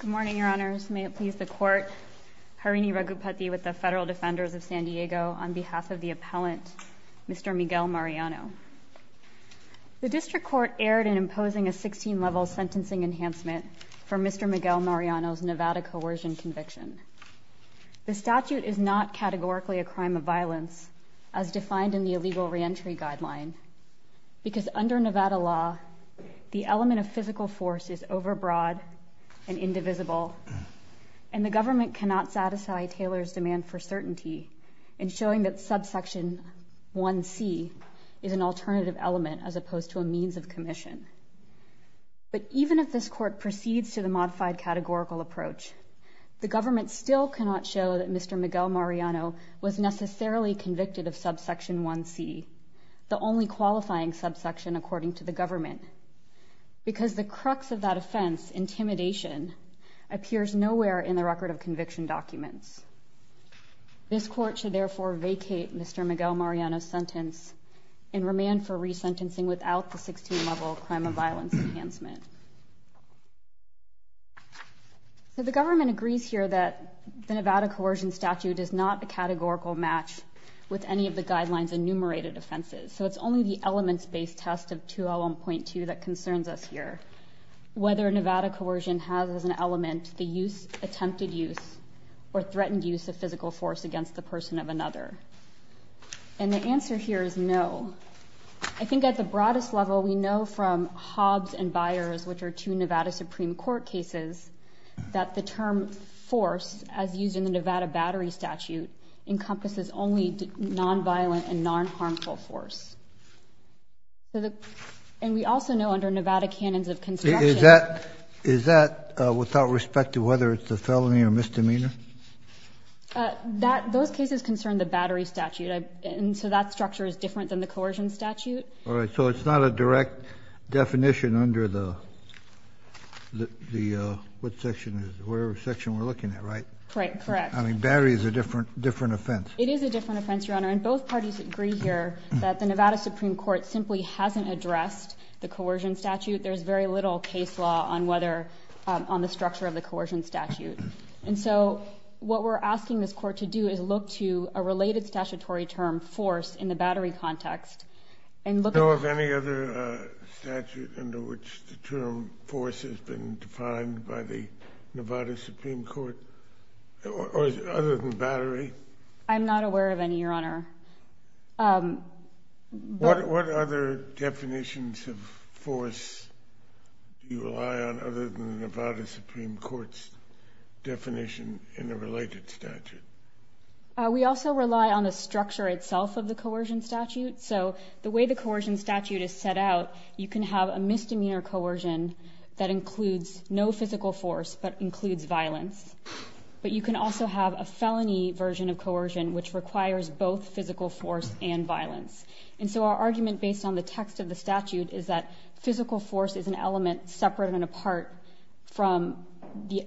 Good morning, Your Honors. May it please the Court, Harini Raghupati with the Federal Defenders of San Diego, on behalf of the Appellant, Mr. Miguel-Mariano. The District Court erred in imposing a 16-level sentencing enhancement for Mr. Miguel-Mariano's Nevada coercion conviction. The statute is not categorically a crime of violence, as defined in the Illegal Reentry Guideline, because under Nevada law, the element of physical force is overbroad and indivisible, and the government cannot satisfy Taylor's demand for certainty in showing that subsection 1c is an alternative element as opposed to a means of commission. But even if this Court proceeds to the modified categorical approach, the government still cannot show that Mr. Miguel-Mariano was necessarily convicted of subsection 1c, the only qualifying subsection according to the government, because the crux of that offense, intimidation, appears nowhere in the record of conviction documents. This Court should therefore vacate Mr. Miguel-Mariano's sentence and remand for resentencing without the 16-level crime of violence enhancement. So the government agrees here that the Nevada coercion statute is not a categorical match with any of the guidelines enumerated offenses. So it's only the elements-based test of 201.2 that concerns us here, whether Nevada coercion has as an element the use, attempted use, or threatened use of physical force against the person of another. And the answer here is no. I think at the broadest level, we know from Hobbs and Byers, which are two Nevada Supreme Court cases, that the term force, as used in the Nevada Battery Statute, encompasses only non-violent and non-harmful force. And we also know under Nevada Canons of Construction — Is that without respect to whether it's a felony or misdemeanor? Those cases concern the Battery Statute. And so that structure is different than the Coercion Statute. All right. So it's not a direct definition under the — what section is it? The section we're looking at, right? Correct. I mean, Battery is a different offense. It is a different offense, Your Honor. And both parties agree here that the Nevada Supreme Court simply hasn't addressed the Coercion Statute. There's very little case law on whether — on the structure of the Coercion Statute. And so what we're asking this Court to do is look to a related statutory term, force, in the Battery context and look — Do you know of any other statute under which the term force has been defined by the Nevada Supreme Court, other than Battery? I'm not aware of any, Your Honor. What other definitions of force do you rely on other than the Nevada Supreme Court's definition in the related statute? We also rely on the structure itself of the Coercion Statute. So the way the Coercion Statute is set out, you can have a misdemeanor coercion that includes no physical force but includes violence. But you can also have a felony version of coercion which requires both physical force and violence. And so our argument based on the text of the statute is that physical force is an element separate and apart from the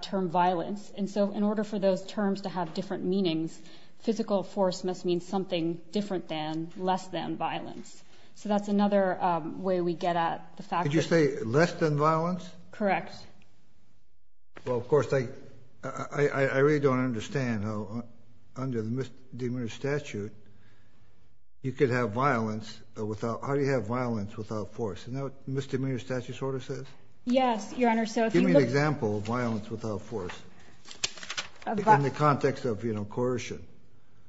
term violence. And so in order for those terms to have different meanings, physical force must mean something different than — less than violence. So that's another way we get at the fact that — Did you say less than violence? Correct. Well, of course, I really don't understand how under the misdemeanor statute, you could have violence without — how do you have violence without force? Isn't that what misdemeanor statute sort of says? Yes, Your Honor. So if you look — Give me an example of violence without force in the context of, you know, coercion.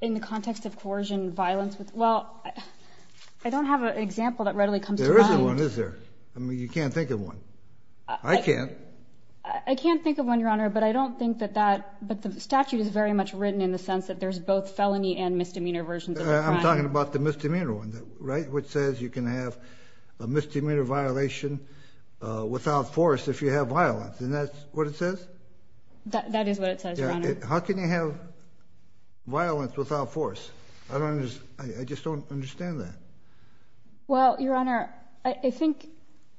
In the context of coercion, violence with — well, I don't have an example that readily comes to mind. There isn't one, is there? I mean, you can't think of one. I can't. I can't think of one, Your Honor, but I don't think that that — but the statute is very much written in the sense that there's both felony and misdemeanor versions of a crime. I'm talking about the misdemeanor one, right, which says you can have a misdemeanor violation without force if you have violence. Isn't that what it says? That is what it says, Your Honor. How can you have violence without force? I don't understand — I just don't understand that. Well, Your Honor, I think,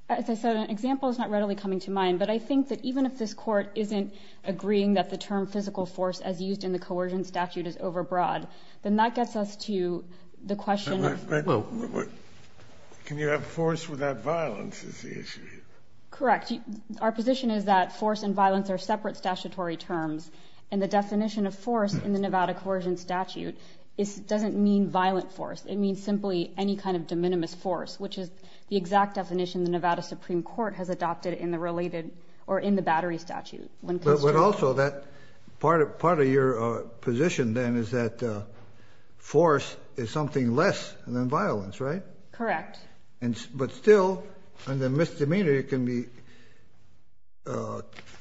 as I said, an example is not readily coming to mind, but I think that even if this Court isn't agreeing that the term physical force as used in the coercion statute is overbroad, then that gets us to the question — Wait, wait, wait. Can you have force without violence is the issue here? Correct. Our position is that force and violence are separate statutory terms, and the definition of force in the Nevada coercion statute doesn't mean violent force. It means simply any kind of de minimis force, which is the exact definition the Nevada Supreme Court has adopted in the related — or in the battery statute. But also, that — part of your position, then, is that force is something less than violence, right? Correct. But still, under misdemeanor, you can be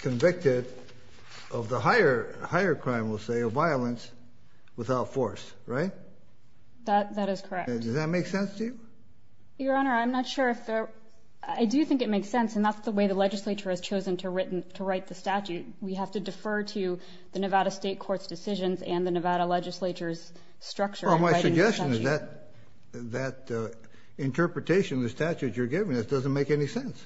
convicted of the higher crime, we'll say, of violence without force, right? That is correct. Does that make sense to you? Your Honor, I'm not sure if there — I do think it makes sense, and that's the way the legislature has chosen to write the statute. We have to defer to the Nevada State Court's decisions and the Nevada legislature's structure in writing the statute. Well, my suggestion is that interpretation of the statute you're giving us doesn't make any sense.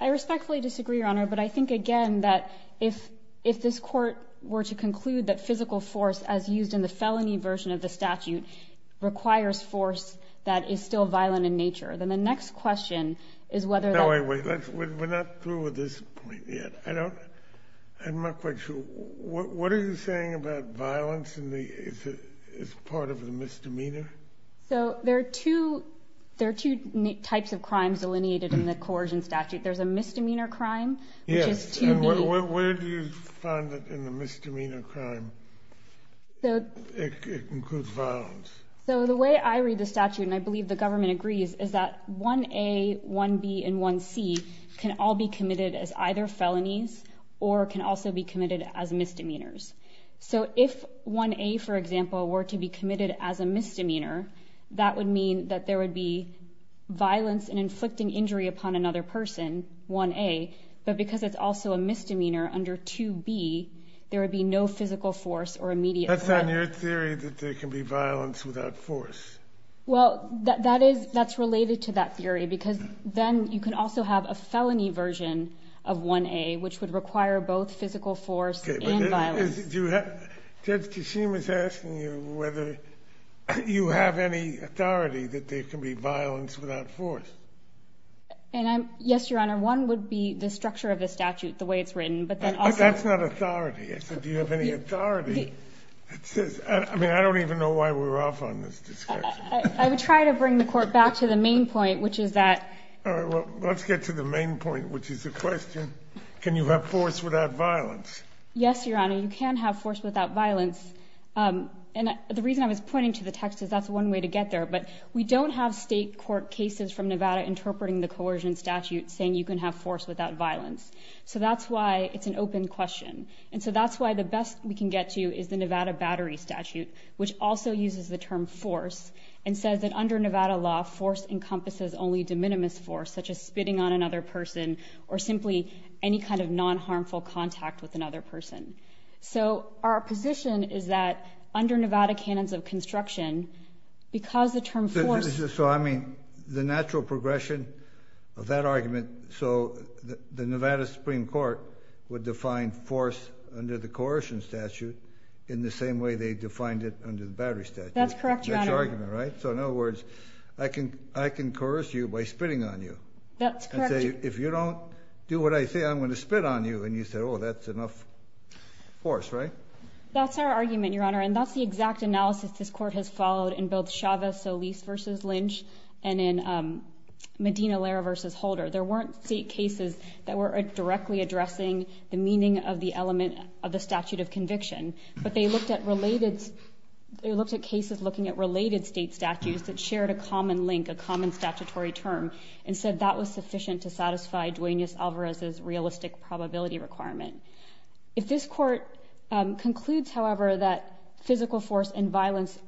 I respectfully disagree, Your Honor, but I think, again, that if this Court were to conclude that physical force, as used in the felony version of the statute, requires force that is still violent in nature, then the next question is whether — No, wait, wait. We're not through with this point yet. I don't — I'm not quite sure. What are you saying about violence in the — as part of the misdemeanor? So there are two — there are two types of crimes delineated in the coercion statute. There's a misdemeanor crime, which is too — And where do you find that in the misdemeanor crime? It includes violence. So the way I read the statute, and I believe the government agrees, is that 1A, 1B, and 1C can all be committed as either felonies or can also be committed as misdemeanors. So if 1A, for example, were to be committed as a misdemeanor, that would mean that there would be violence and inflicting injury upon another person, 1A, but because it's also a misdemeanor under 2B, there would be no physical force or immediate — That's on your theory that there can be violence without force. Well, that is — that's related to that theory because then you can also have a felony version of 1A, which would require both physical force and violence. Okay, but is — do — Judge Kishim is asking you whether you have any authority that there can be violence without force. And I'm — yes, Your Honor, one would be the structure of the statute, the way it's written, but then also — That's not authority. I said, do you have any authority that says — I mean, I don't even know why we're off on this discussion. I would try to bring the Court back to the main point, which is that — All right, well, let's get to the main point, which is the question, can you have force without violence? Yes, Your Honor, you can have force without violence. And the reason I was pointing to the text is that's one way to get there, but we don't have state court cases from Nevada interpreting the coercion statute saying you can have force without violence. So that's why it's an open question. And so that's why the best we can get to is the Nevada Battery Statute, which also uses the term force and says that under Nevada law, force encompasses only de minimis force, such as spitting on another person or simply any kind of non-harmful contact with another person. So our position is that under Nevada canons of construction, because the term force — So I mean, the natural progression of that argument, so the Nevada Supreme Court would define force under the coercion statute in the same way they defined it under the battery statute. That's correct, Your Honor. That's your argument, right? So in other words, I can coerce you by spitting on you. That's correct. And say, if you don't do what I say, I'm going to spit on you. And you say, oh, that's enough force, right? That's our argument, Your Honor. And that's the exact analysis this Court has followed in both Chavez-Solis v. Lynch and in Medina-Lara v. Holder. There weren't state cases that were directly addressing the meaning of the element of the statute of conviction. But they looked at related — they looked at cases looking at related state statutes that shared a common link, a common statutory term, and said that was sufficient to satisfy Duaneus Alvarez's realistic probability requirement. If this Court concludes, however, that physical force and violence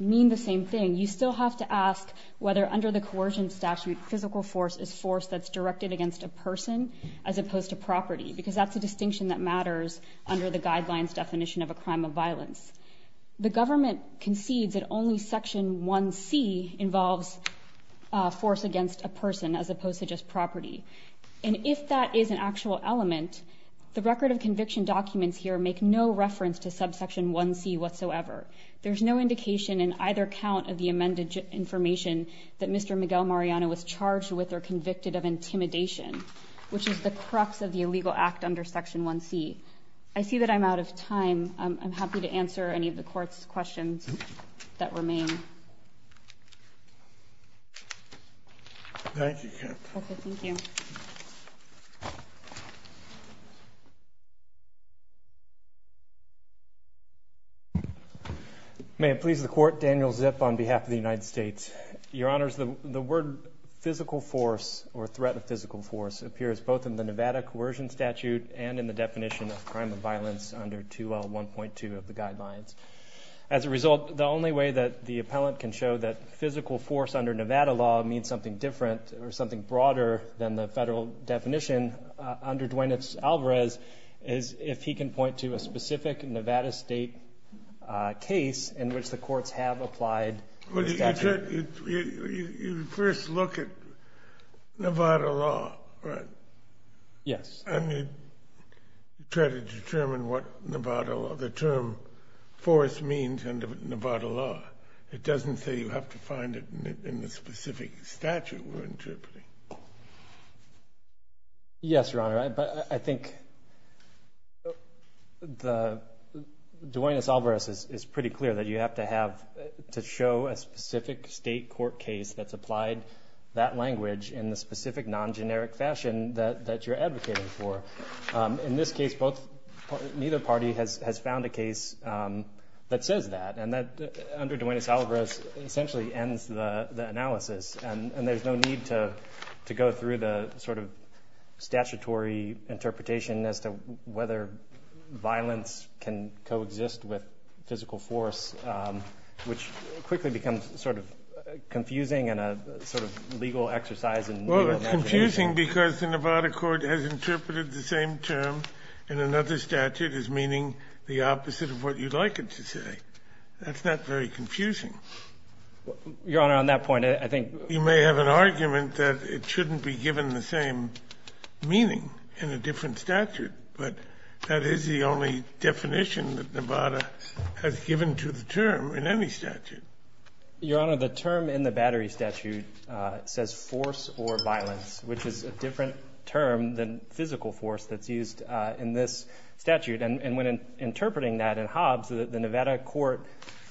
mean the same thing, you still have to ask whether under the coercion statute physical force is force that's directed against a person as opposed to property, because that's a distinction that matters under the guidelines definition of a crime of violence. The government concedes that only Section 1C involves force against a person as opposed to just property. And if that is an actual element, the record of conviction documents here make no reference to subsection 1C whatsoever. There's no indication in either count of the amended information that Mr. Miguel Mariano was charged with or convicted of intimidation, which is the crux of the illegal act under Section 1C. I see that I'm out of time. I'm happy to answer any of the Court's questions that remain. Thank you, Captain. Okay, thank you. May it please the Court, Daniel Zip on behalf of the United States. Your Honors, the word physical force or threat of physical force appears both in the Nevada coercion statute and in the definition of crime of violence under 2L1.2 of the guidelines. As a result, the only way that the appellant can show that physical force under Nevada law means something different or something broader than the federal definition under Duenitz-Alvarez is if he can point to a specific Nevada state case in which the courts have applied the statute. You first look at Nevada law, right? Yes. And you try to determine what Nevada law, the term force means under Nevada law. It doesn't say you have to find it in the specific statute we're interpreting. Yes, Your Honor, but I think Duenitz-Alvarez is pretty clear that you have to have, to show a specific state court case that's applied that language in the specific non-generic fashion that you're advocating for. In this case, neither party has found a case that says that, and that under Duenitz-Alvarez essentially ends the analysis, and there's no need to go through the sort of statutory interpretation as to whether violence can coexist with physical force, which quickly becomes sort of confusing and a sort of legal exercise in Nevada law. It's confusing because the Nevada court has interpreted the same term in another statute as meaning the opposite of what you'd like it to say. That's not very confusing. Your Honor, on that point, I think you may have an argument that it shouldn't be given the same meaning in a different statute, but that is the only definition that Nevada has given to the term in any statute. Your Honor, the term in the Battery statute says force or violence, which is a different term than physical force that's used in this statute. And when interpreting that in Hobbs, the Nevada court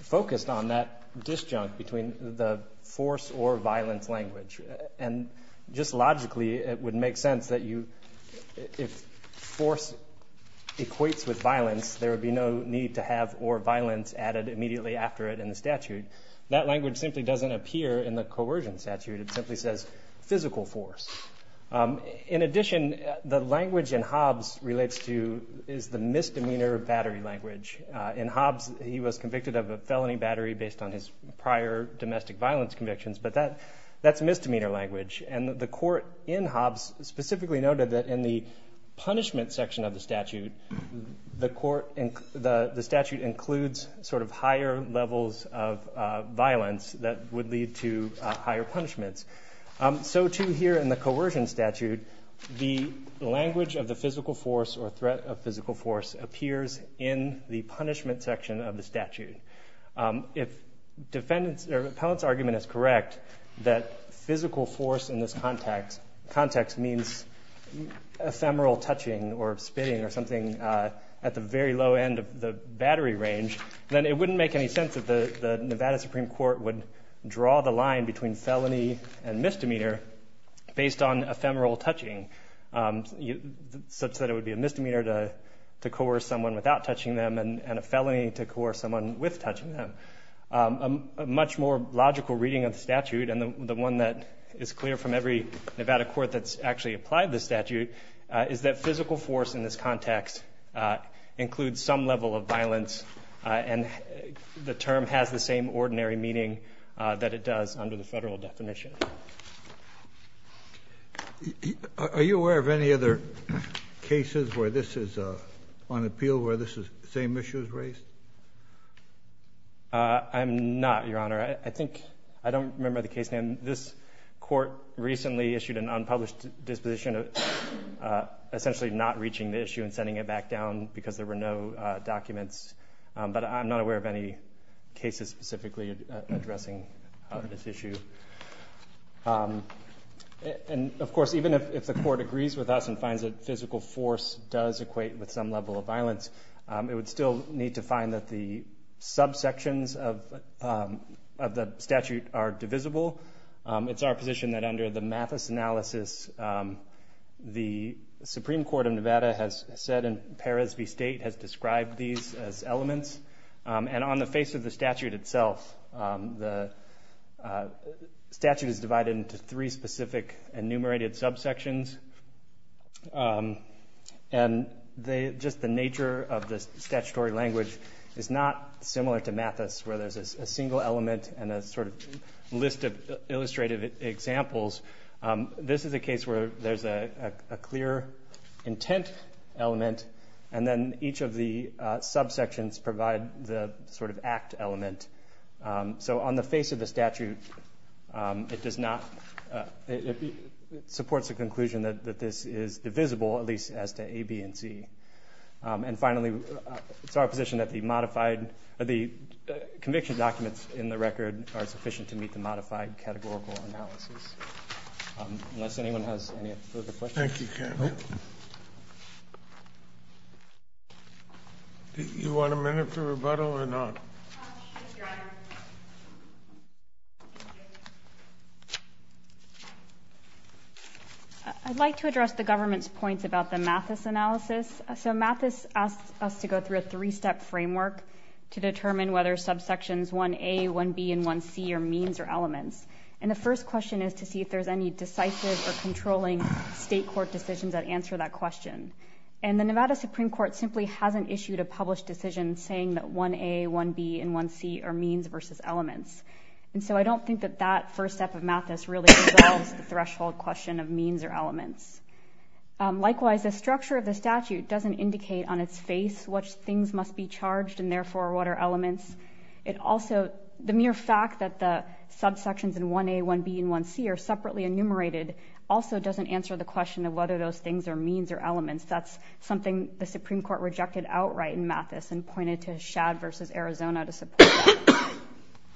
focused on that disjunct between the force or violence language. And just logically, it would make sense that if force equates with violence, there would be no need to have or violence added immediately after it in the statute. That language simply doesn't appear in the Coercion statute. It simply says physical force. In addition, the language in Hobbs relates to is the misdemeanor battery language. In Hobbs, he was convicted of a felony battery based on his prior domestic violence convictions, but that's misdemeanor language. And the court in Hobbs specifically noted that in the punishment section of the statute, the statute includes sort of higher levels of violence that would lead to higher punishments. So too here in the Coercion statute, the language of the physical force or threat of physical force appears in the punishment section of the statute. If defendant's or appellant's argument is correct, that physical force in this context means ephemeral touching or spitting or something at the very low end of the battery range, then it wouldn't make any sense that the Nevada Supreme Court would draw the line between felony and misdemeanor based on ephemeral touching, such that it would be a misdemeanor to coerce someone without touching them and a felony to coerce someone with touching them. A much more logical reading of the statute, and the one that is clear from every Nevada court that's actually applied the statute, is that physical force in this context includes some level of violence, and the term has the same ordinary meaning that it does under the federal definition. Are you aware of any other cases where this is on appeal where this same issue is raised? I'm not, Your Honor. I don't remember the case name. This court recently issued an unpublished disposition essentially not reaching the issue and sending it back down because there were no documents, but I'm not aware of any cases specifically addressing this issue. Of course, even if the court agrees with us and finds that physical force does equate with some level of violence, it would still need to find that the subsections of the statute are divisible. It's our position that under the Mathis analysis, the Supreme Court of Nevada has said, and Peres v. State has described these as elements. And on the face of the statute itself, the statute is divided into three specific enumerated subsections. And just the nature of the statutory language is not similar to Mathis, where there's a single element and a sort of list of illustrative examples. This is a case where there's a clear intent element, and then each of the subsections provide the sort of act element. So on the face of the statute, it supports the conclusion that this is divisible, at least as to A, B, and C. And finally, it's our position that the conviction documents in the record are sufficient to meet the modified categorical analysis. Unless anyone has any further questions? Thank you, Kevin. You want a minute for rebuttal or not? Yes, Your Honor. I'd like to address the government's points about the Mathis analysis. So Mathis asks us to go through a three-step framework to determine whether subsections 1A, 1B, and 1C are means or elements. And the first question is to see if there's any decisive or controlling state court decisions that answer that question. And the Nevada Supreme Court simply hasn't issued a published decision saying that 1A, 1B, and 1C are means versus elements. And so I don't think that that first step of Mathis really resolves the threshold question of means or elements. Likewise, the structure of the statute doesn't indicate on its face what things must be charged and therefore what are elements. It also, the mere fact that the subsections in 1A, 1B, and 1C are separately enumerated also doesn't answer the question of whether those things are means or elements. That's something the Supreme Court rejected outright in Mathis and pointed to Shad v. Arizona to support that.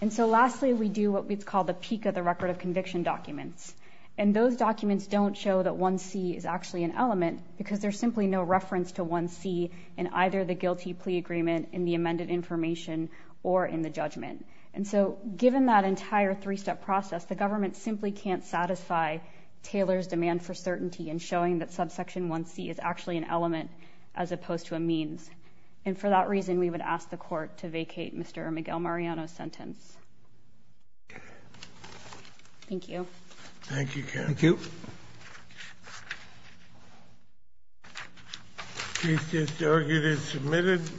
And so lastly, we do what's called the peak of the record of conviction documents. And those documents don't show that 1C is actually an element because there's simply no reference to 1C in either the guilty plea agreement, in the amended information, or in the judgment. And so given that entire three-step process, the government simply can't satisfy Taylor's demand for certainty in showing that subsection 1C is actually an element as opposed to a means. And for that reason, we would ask the Court to vacate Mr. Miguel Mariano's sentence. Thank you. Thank you.